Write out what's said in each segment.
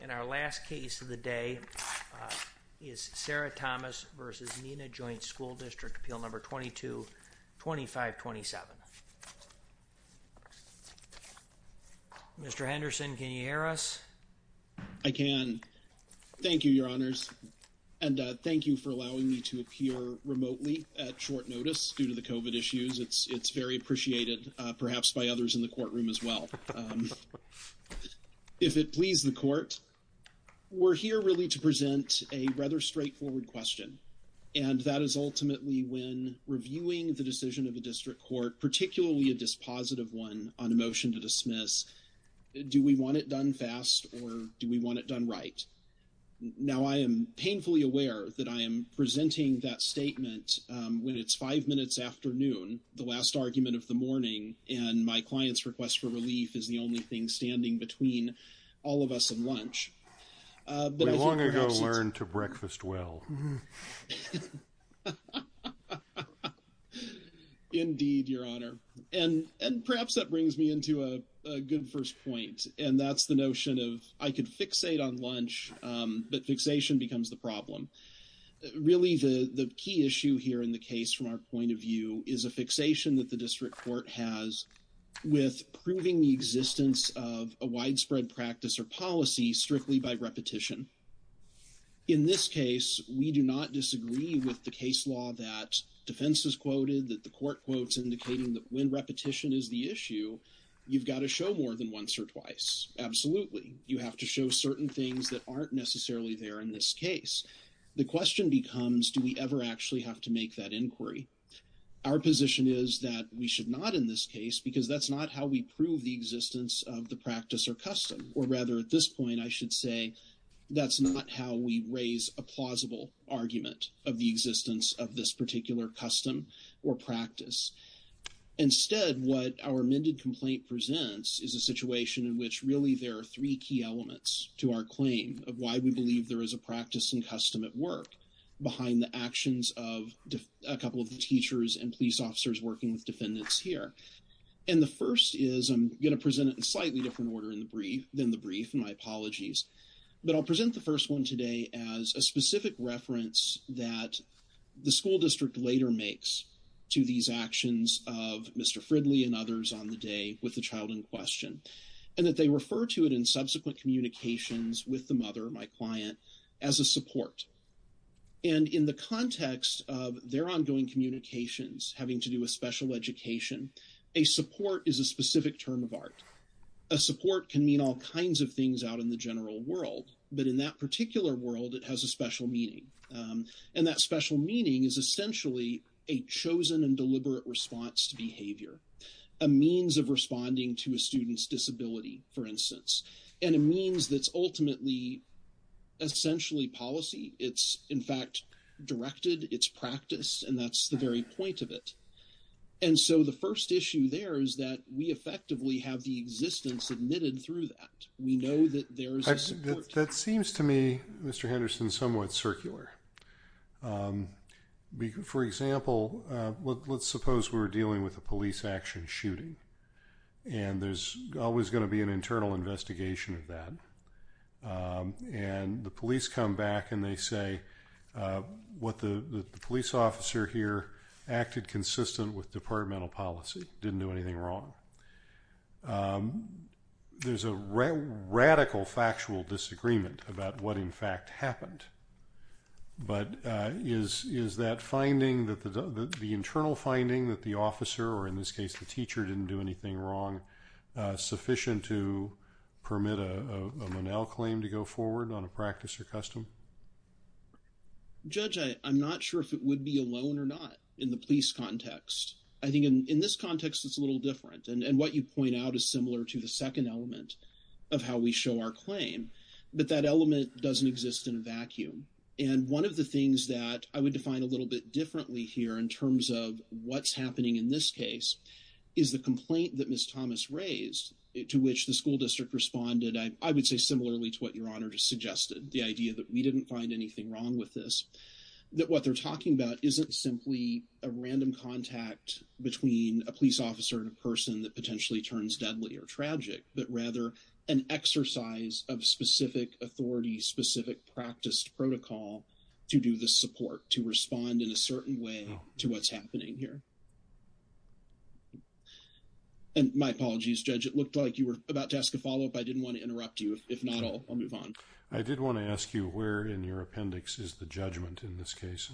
And our last case of the day is Sarah Thomas v. Neenah Joint School District, appeal number 22-2527. Mr. Henderson, can you hear us? I can. Thank you, Your Honors. And thank you for allowing me to appear remotely at short notice due to the COVID issues. It's very appreciated, perhaps by others in the courtroom as well. If it please the court, we're here really to present a rather straightforward question. And that is ultimately when reviewing the decision of the district court, particularly a dispositive one on a motion to dismiss, do we want it done fast or do we want it done right? Now, I am painfully aware that I am presenting that statement when it's five minutes after noon, the last argument of the morning, and my client's request for relief is the only thing standing between all of us and lunch. We long ago learned to breakfast well. Indeed, Your Honor, and perhaps that brings me into a good first point. And that's the notion of I could fixate on lunch, but fixation becomes the problem. Really, the key issue here in the case from our point of view is a with proving the existence of a widespread practice or policy strictly by repetition. In this case, we do not disagree with the case law that defense is quoted that the court quotes indicating that when repetition is the issue, you've got to show more than once or twice. Absolutely. You have to show certain things that aren't necessarily there in this case. The question becomes, do we ever actually have to make that inquiry? Our position is that we should not in this case because that's not how we prove the existence of the practice or custom, or rather at this point, I should say that's not how we raise a plausible argument of the existence of this particular custom or practice. Instead, what our amended complaint presents is a situation in which really there are three key elements to our claim of why we believe there is a practice and custom at work behind the actions of a couple of the teachers and police officers working with defendants here. And the first is I'm going to present it in slightly different order than the brief, and my apologies, but I'll present the first one today as a specific reference that the school district later makes to these actions of Mr. Fridley and others on the day with the child in question, and that they refer to it in subsequent communications with the mother, my client, as a support. And in the context of their ongoing communications having to do with special education, a support is a specific term of art. A support can mean all kinds of things out in the general world, but in that particular world, it has a special meaning. And that special meaning is essentially a chosen and deliberate response to And it means that's ultimately essentially policy. It's in fact directed its practice and that's the very point of it. And so the first issue there is that we effectively have the existence admitted through that. We know that there is a support. That seems to me, Mr. Henderson, somewhat circular. For example, let's suppose we're dealing with a police action shooting and there's always going to be an internal investigation of that. And the police come back and they say what the police officer here acted consistent with departmental policy, didn't do anything wrong. There's a radical factual disagreement about what in fact happened. But is that finding that the internal finding that the officer or in this case the teacher didn't do anything wrong. Sufficient to permit a Monell claim to go forward on a practice or custom. Judge, I'm not sure if it would be alone or not in the police context. I think in this context, it's a little different and what you point out is similar to the second element of how we show our claim. But that element doesn't exist in a vacuum and one of the things that I would define a little bit differently here in terms of what's happening in this case is the complaint that Miss Thomas raised it to which the school district responded. I would say similarly to what your honor just suggested the idea that we didn't find anything wrong with this that what they're talking about isn't simply a random contact between a police officer and a person that potentially turns deadly or tragic but rather an exercise of specific authority specific practice protocol to do the support to respond in a certain way to what's happening here. And my apologies judge. It looked like you were about to ask a follow-up. I didn't want to interrupt you. If not, I'll move on. I did want to ask you where in your appendix is the judgment in this case.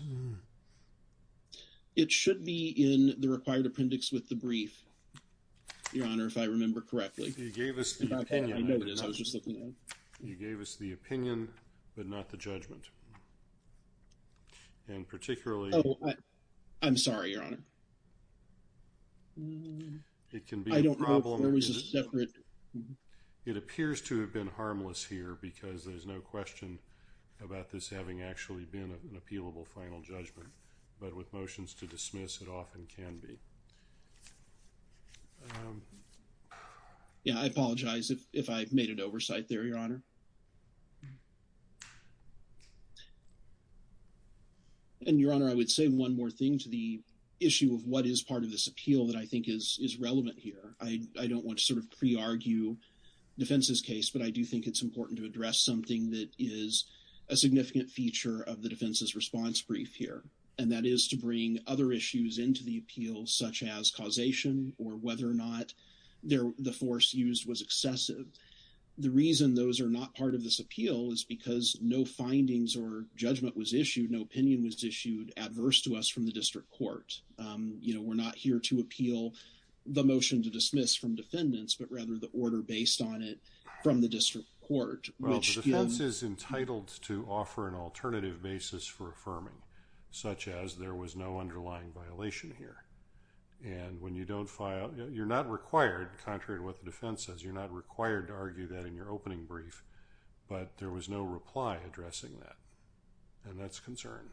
It should be in the required appendix with the brief. Your honor, if I remember correctly, you gave us the opinion, but not the judgment. And particularly, I'm sorry, your honor. It can be a problem. There was a separate. It appears to have been harmless here because there's no question about this having actually been an appealable final judgment, but with motions to dismiss it often can be. Yeah, I apologize if I've made it oversight there, your honor. And your honor, I would say one more thing to the issue of what is part of this appeal that I think is relevant here. I don't want to sort of pre-argue defense's case, but I do think it's important to address something that is a significant feature of the defense's response brief here and that is to bring other issues into the appeal such as causation or whether or not the force used was excessive. The reason those are not part of this appeal is because no findings or judgment was issued. No opinion was issued adverse to us from the district court. You know, we're not here to appeal the motion to dismiss from defendants, but rather the order based on it from the district court. Well, the defense is entitled to offer an alternative basis for affirming such as there was no underlying violation here. And when you don't file, you're not required, contrary to what the defense says, you're not required to argue that in your opening brief, but there was no reply addressing that and that's concern.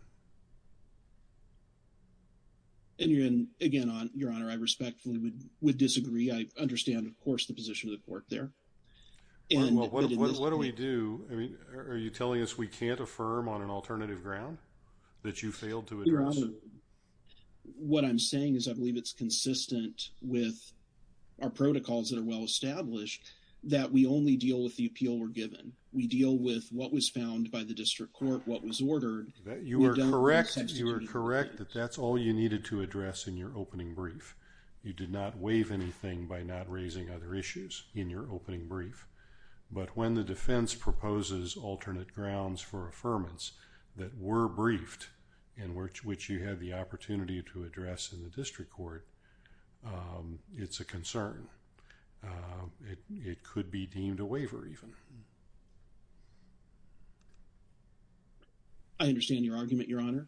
And you're in again on your honor. I respectfully would disagree. I understand. Of course the position of the court there. And what do we do? I mean, are you telling us we can't affirm on an alternative ground that you failed to address? What I'm saying is I believe it's consistent with our protocols that are well established that we only deal with the appeal were given. We deal with what was found by the district court. What was ordered that you were correct. You are correct that that's all you needed to address in your opening brief. You did not waive anything by not raising other issues in your opening brief, but when the defense proposes alternate grounds for affirmance that were briefed in which you had the opportunity to address in the district court, it's a concern. It could be deemed a waiver even. I understand your argument, your honor.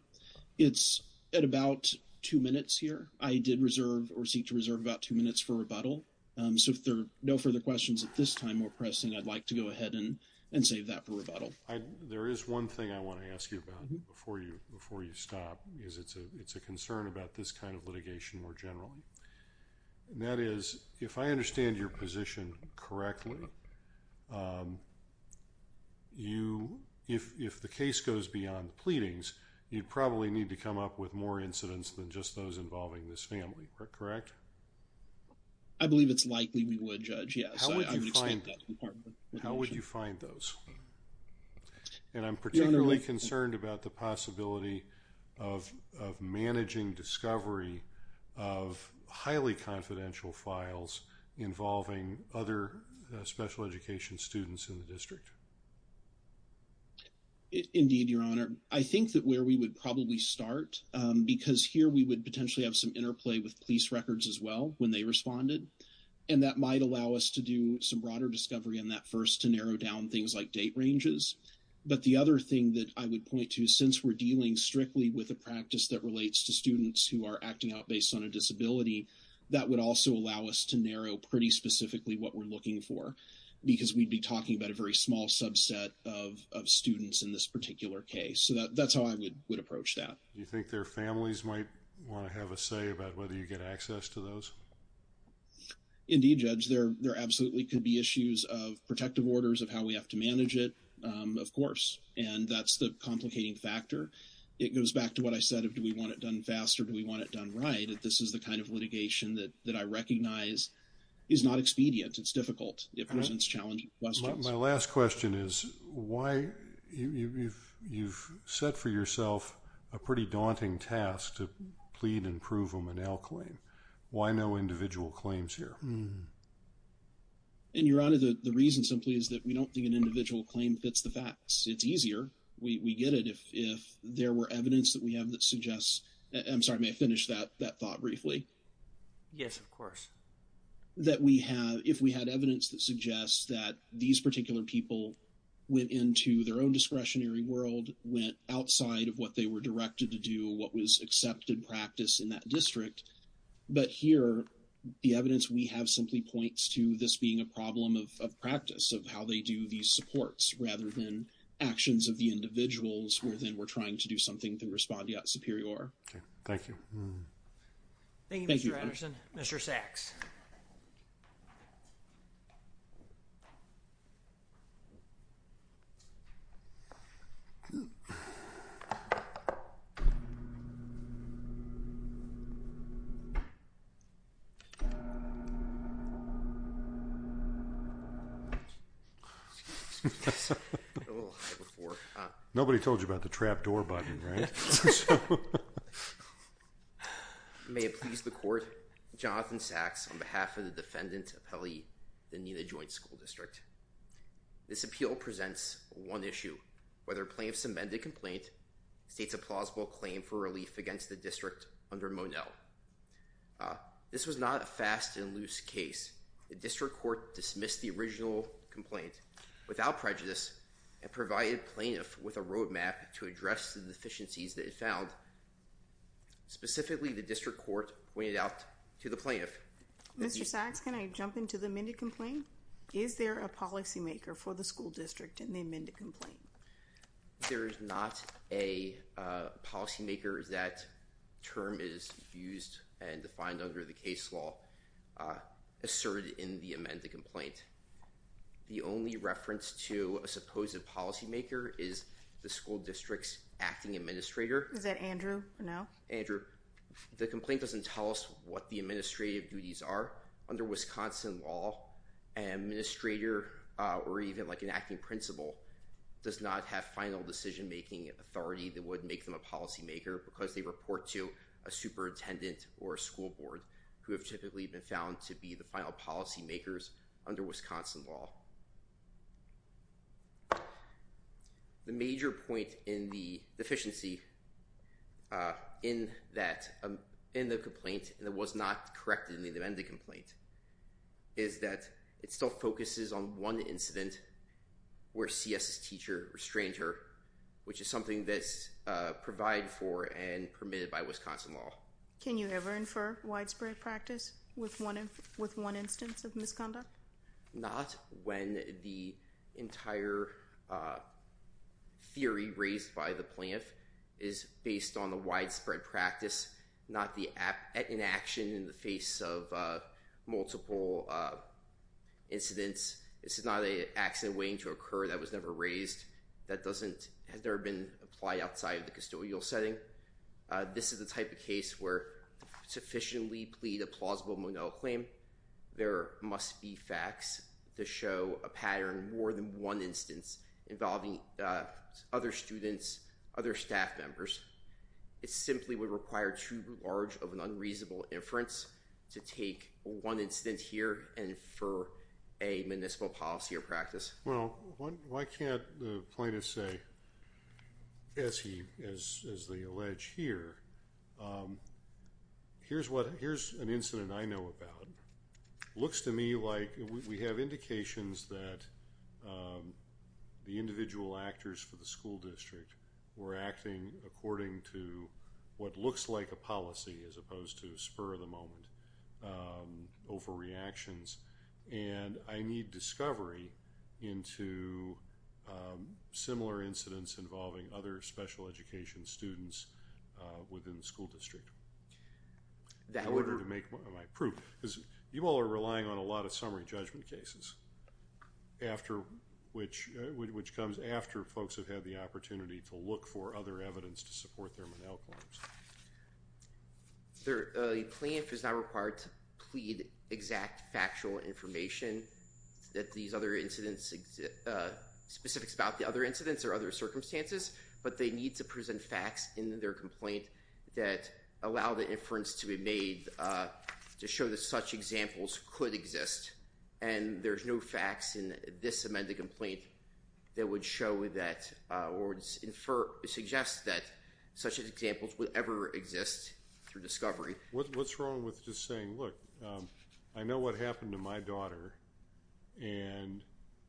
It's at about two minutes here. I did reserve or seek to reserve about two minutes for rebuttal. So if there are no further questions at this time or pressing I'd like to go ahead and and save that for rebuttal. There is one thing I want to ask you about before you before you stop is it's a it's a concern about this kind of litigation more generally. That is if I understand your position correctly. You if the case goes beyond pleadings, you'd probably need to come up with more incidents than just those involving this family, correct? I believe it's likely we would judge. Yeah, how would you find that department? How would you find those? And I'm particularly concerned about the possibility of managing discovery of highly confidential files involving other specific individuals. Special education students in the district. Indeed your honor. I think that where we would probably start because here we would potentially have some interplay with police records as well when they responded and that might allow us to do some broader discovery in that first to narrow down things like date ranges. But the other thing that I would point to since we're dealing strictly with a practice that relates to students who are acting out based on a disability that would also allow us to narrow pretty specifically what we're looking for because we'd be talking about a very small subset of students in this particular case. So that's how I would would approach that. You think their families might want to have a say about whether you get access to those? Indeed judge there. There absolutely could be issues of protective orders of how we have to manage it. Of course, and that's the complicating factor. It goes back to what I said of do we want it done faster? Do we want it done? Right at this is the kind of litigation that I recognize is not expedient. It's difficult. It presents challenging questions. My last question is why you've you've set for yourself a pretty daunting task to plead and prove them an L claim. Why no individual claims here? And your honor the reason simply is that we don't think an individual claim fits the facts. It's easier. We get it. If there were evidence that we have that suggests I'm sorry may finish that that thought briefly. Yes, of course. That we have if we had evidence that suggests that these particular people went into their own discretionary world went outside of what they were directed to do what was accepted practice in that district. But here the evidence we have simply points to this being a problem of practice of how they do these supports rather than actions of the individuals where then we're trying to do something to respond yet superior. Thank you. Thank you, Mr. Anderson, Mr. Sacks. Nobody told you about the trap door button, right? So may it please the court Jonathan Sacks on behalf of the defendant of Helly the Nina Joint School District. This appeal presents one issue whether plaintiff's amended complaint states a plausible claim for relief against the district under Monel. This was not a fast and loose case the district court dismissed the original complaint without prejudice and provided plaintiff with a found. Specifically the district court pointed out to the plaintiff. Mr. Sacks. Can I jump into the amended complaint? Is there a policymaker for the school district in the amended complaint? There is not a policymaker is that term is used and defined under the case law asserted in the amended complaint. The only reference to a supposed policymaker is the school district's administrator. Is that Andrew? No, Andrew, the complaint doesn't tell us what the administrative duties are under Wisconsin law and administrator or even like an acting principal does not have final decision-making authority that would make them a policymaker because they report to a superintendent or a school board who have typically been found to be the final policymakers under Wisconsin law. The major point in the deficiency in that in the complaint that was not corrected in the amended complaint is that it still focuses on one incident where CSS teacher restrained her which is something that's provide for and permitted by Wisconsin law. Can you ever infer widespread practice with one with one instance of the entire theory raised by the plant is based on the widespread practice not the app in action in the face of multiple incidents. This is not a accident waiting to occur that was never raised that doesn't have there been applied outside of the custodial setting. This is the type of case where sufficiently plead a plausible claim. There must be facts to show a pattern more than one instance involving other students other staff members. It's simply would require too large of an unreasonable inference to take one instance here and for a municipal policy or practice. Well, why can't the plaintiff say as he is the alleged here. Um, here's what here's an incident. I know about looks to me like we have indications that the individual actors for the school district were acting according to what looks like a policy as opposed to spur of the moment overreactions and I need discovery into similar incidents involving other special education students within the school district. That would make my proof is you all are relying on a lot of summary judgment cases after which which comes after folks have had the opportunity to look for other evidence to support their mental problems. They're clean if it's not required to plead exact factual information that these other incidents specifics about the other incidents or other circumstances, but they need to present facts in their complaint that allow the inference to be made to show the such examples could exist and there's no facts in this amended complaint that would show that words infer suggest that such as examples will ever exist through discovery. What's wrong with just saying look, I know what happened to my daughter and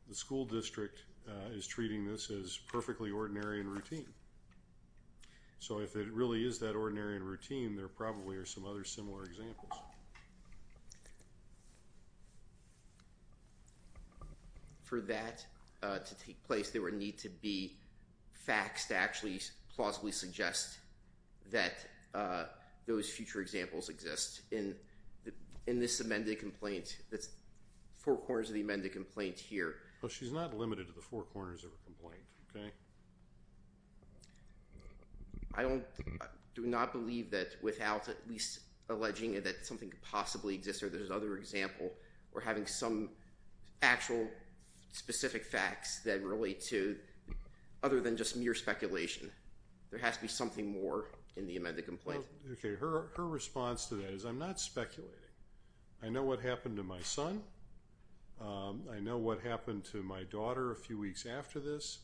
the school district is treating this as perfectly ordinary and routine. So if it really is that ordinary and routine there probably are some other similar examples. For that to take place. There were need to be facts to actually plausibly suggest that those future examples exist in the in this amended complaint. That's four corners of the amended complaint here, but she's not limited to the four corners of a complaint. Okay. I don't do not believe that without at least alleging that something could possibly exist or there's other example or having some actual specific facts that relate to other than just mere speculation. There has to be something more in the amended complaint. Okay, her response to that is I'm not speculating. I know what happened to my son. I know what happened to my daughter a few weeks after this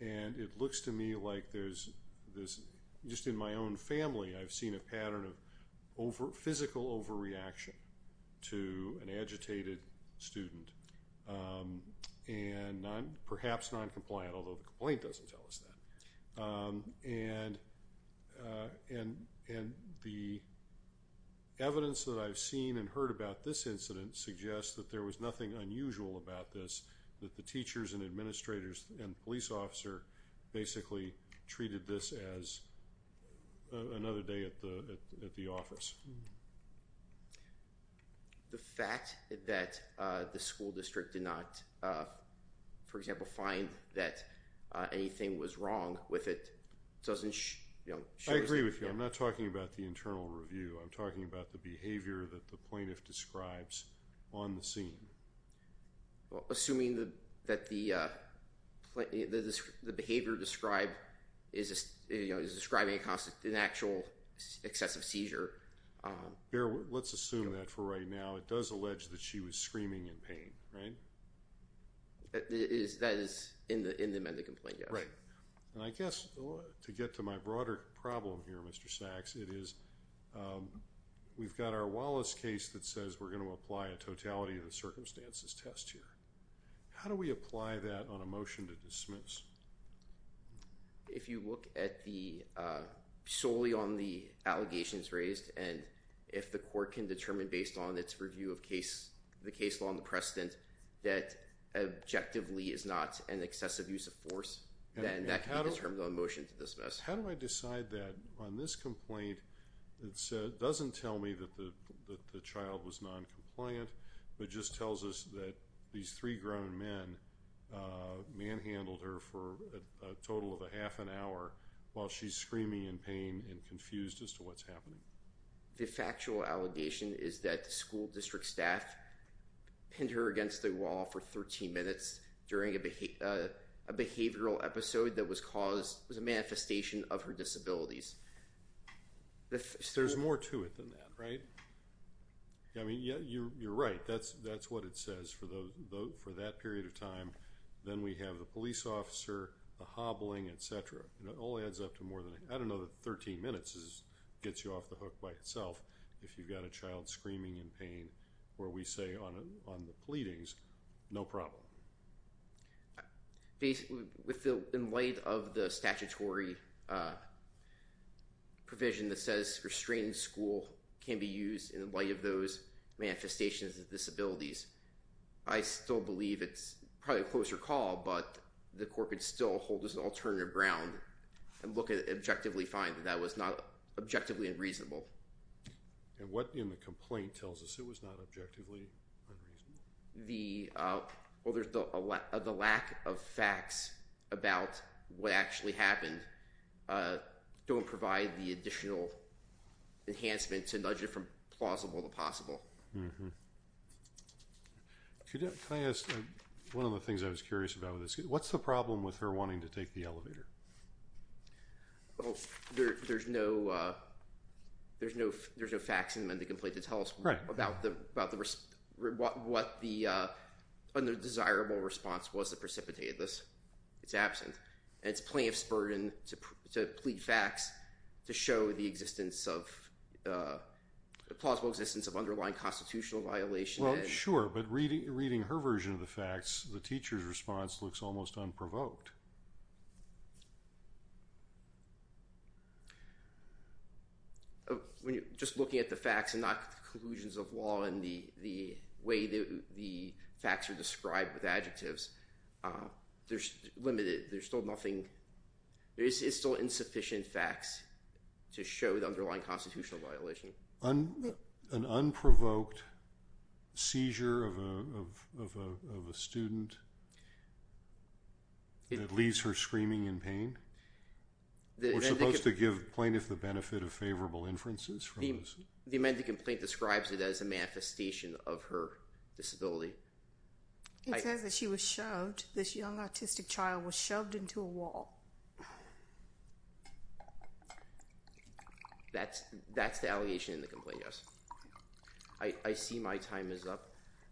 and it looks to me like there's this just in my own family. I've seen a pattern of over physical overreaction to an agitated student and I'm perhaps non-compliant. Although the complaint doesn't tell us that and and and the evidence that I've seen and heard about this incident suggests that there was nothing unusual about this that the teachers and administrators and police officer basically treated this as another day at the at the office. The fact that the school district did not for example, find that anything was wrong with it. Doesn't you know, I agree with you. I'm not talking about the internal review. I'm talking about the behavior that the plaintiff describes on the scene. Assuming the that the the behavior described is just you know, is describing a constant in actual excessive seizure here. Let's assume that for right now. It does allege that she was screaming in pain, right? That is that is in the in the amended complaint. Yeah, right and I guess to get to my broader problem here. Mr. Sacks it is we've got our Wallace case that says we're going to apply a totality of the circumstances test here. How do we apply that on a motion to dismiss? If you look at the solely on the allegations raised and if the court can determine based on its review of case the case law on the precedent that objectively is not an excessive use of force then that kind of terms on motion to dismiss. How do I decide that on this complaint? It said doesn't tell me that the child was non-compliant but just tells us that these three grown men manhandled her for a total of a half an hour while she's screaming in pain and confused as to what's happening. The factual allegation is that the school district staff pinned her against the wall for 13 minutes during a behavior behavioral episode that was caused was a manifestation of her disabilities. If there's more to it than that, right? I mean, yeah, you're right. That's that's what it says for the vote for that period of time. Then we have the police officer the hobbling Etc. And it all adds up to more than I don't know that 13 minutes is gets you off the hook by itself. If you've got a child screaming in pain where we say on it on the pleadings, no problem. Basically with the in light of the statutory provision that says restraining school can be used in the light of those manifestations of disabilities. I still believe it's probably a closer call but the court could still hold as an alternative Brown and look at it objectively find that that was not objectively unreasonable. And what in the complaint tells us? It was not objectively unreasonable. The well, there's the lack of the lack of facts about what actually happened. Don't provide the additional enhancement to nudge it from plausible to possible. One of the things I was curious about what's the problem with her wanting to take the elevator? Well, there's no there's no there's no facts and then they can play to tell us right about the about the risk what what the undesirable response was that precipitated this it's absent and it's plenty of spurred in to plead facts to show the existence of plausible existence of underlying constitutional violation. Well, sure, but reading reading her version of the facts the teacher's response looks almost unprovoked. When you're just looking at the facts and not conclusions of law and the the way that the facts are described with adjectives, there's limited. There's still nothing there is still insufficient facts to show the underlying constitutional violation on an unprovoked seizure of a student. It leaves her screaming in pain. They're supposed to give plaintiff the benefit of favorable inferences from the men to complain describes it as a manifestation of her disability. I said that she was showed this young autistic child was shoved into a wall. That's that's the allegation in the complaint. Yes, I see my time is up.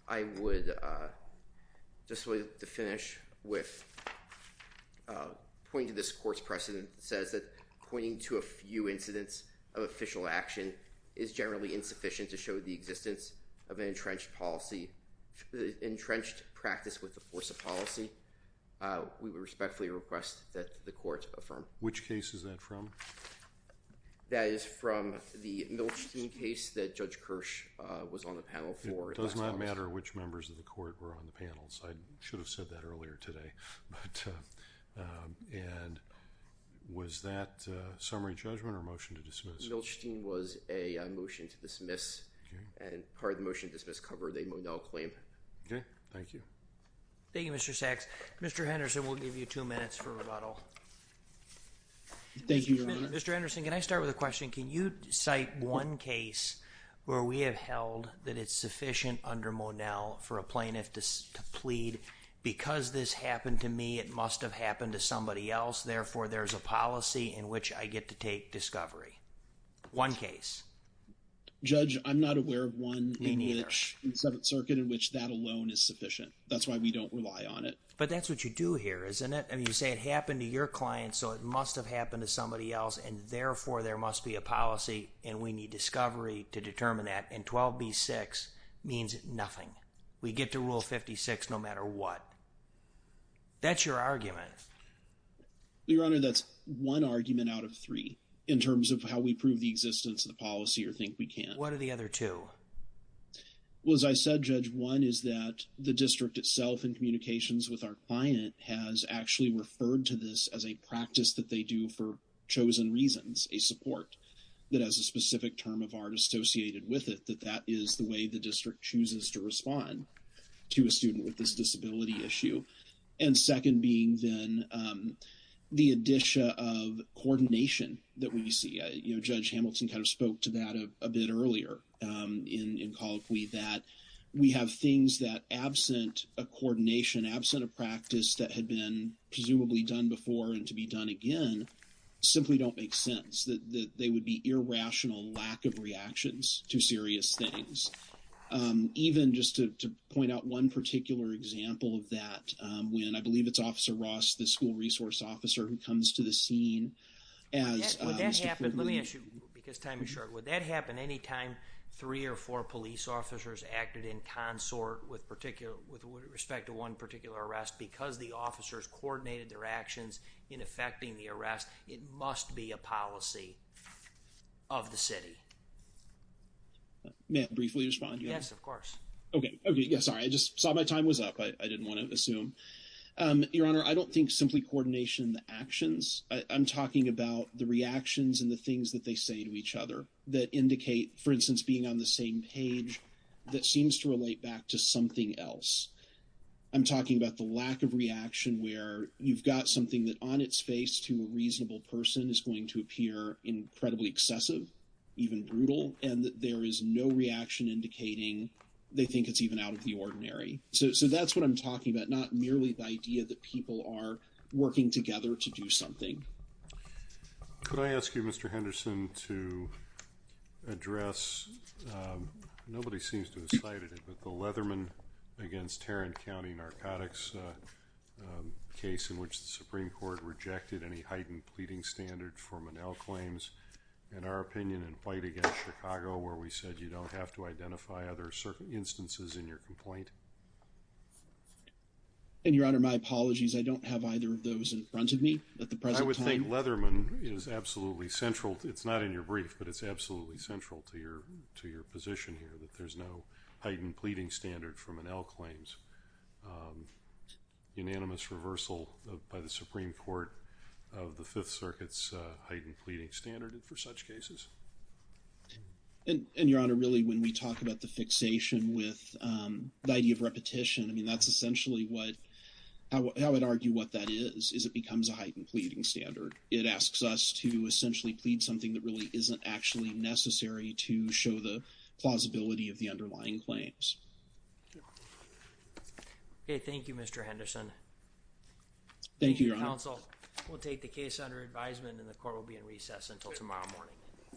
I would just wait to finish with point to this course precedent says that pointing to a few incidents of official action is generally insufficient to show the existence of an entrenched policy entrenched practice with the force of policy. We respectfully request that the court from which case is that from that is from the Milstein case that judge Kirsch was on the panel for does not matter which members of the court were on the panels. I should have said that earlier today, but and was that summary judgment or motion to dismiss Milstein was a motion to dismiss and part of the motion to dismiss cover. They moved all claim. Okay. Thank you. Thank you. Mr. Sacks. Mr. Henderson will give you two minutes for rebuttal. Thank you, Mr. Anderson. Can I start with a question? Can you cite one case where we have held that it's sufficient under Monell for a plaintiff to plead because this happened to me, it must have happened to somebody else. Therefore, there's a policy in which I get to take discovery. One case judge. I'm not aware of one in which in Seventh Circuit in which that alone is sufficient. That's why we don't rely on it. But that's what you do here, isn't it? And you say it happened to your client. So it must have happened to somebody else. And therefore, there must be a policy and we need discovery to determine that and 12b-6 means nothing. We get to rule 56, no matter what. That's your argument. Your Honor, that's one argument out of three in terms of how we prove the existence of the policy or think we can't. What are the other two? Well, as I said, Judge, one is that the district itself in communications with our client has actually referred to this as a practice that they do for chosen reasons, a support that has a specific term of art associated with it, that that is the way the district chooses to respond to a student with this disability issue. And second being then the addition of coordination that we see, you know, Judge Hamilton kind of spoke to that a bit earlier in Colloquy that we have things that absent a coordination, absent a practice that had been presumably done before and to be done again, simply don't make sense, that they would be irrational lack of reactions to serious things. Even just to point out one particular example of that, when I believe it's Officer Ross, the school resource officer who comes to the scene as... Would that happen? Let me ask you, because time is short. Would that happen anytime three or four police officers acted in consort with particular, with respect to one particular arrest because the officers coordinated their actions in effecting the arrest? It must be a policy of the city. May I briefly respond? Yes, of course. Okay. Okay. Yes. Sorry. I just saw my time was up. I didn't want to assume. Your Honor, I don't think simply coordination in the actions. I'm talking about the reactions and the things that they say to each other that indicate, for instance, being on the same page that seems to relate back to something else. I'm talking about the lack of reaction where you've got something that on its face to a reasonable person is going to appear incredibly excessive, even brutal, and there is no reaction indicating they think it's even out of the ordinary. So that's what I'm talking about. Not merely the idea that people are working together to do something. Could I ask you, Mr. Henderson, to address, nobody seems to have cited it, but the Leatherman against Tarrant County Narcotics case in which the Supreme Court rejected any heightened pleading standard for Monell claims in our opinion in fight against Chicago where we said you don't have to identify other circumstances in your complaint. And Your Honor, my apologies. I don't have either of those in front of me at the present time. I would think Leatherman is absolutely central. It's not in your brief, but it's absolutely central to your to your pleading standard for Monell claims. Unanimous reversal by the Supreme Court of the Fifth Circuit's heightened pleading standard for such cases. And Your Honor, really when we talk about the fixation with the idea of repetition, I mean, that's essentially what I would argue what that is, is it becomes a heightened pleading standard. It asks us to essentially plead something that really isn't actually necessary to show the plausibility of the underlying claims. Thank you, Mr. Henderson. Thank you, Your Honor. Counsel will take the case under advisement and the court will be in recess until tomorrow morning.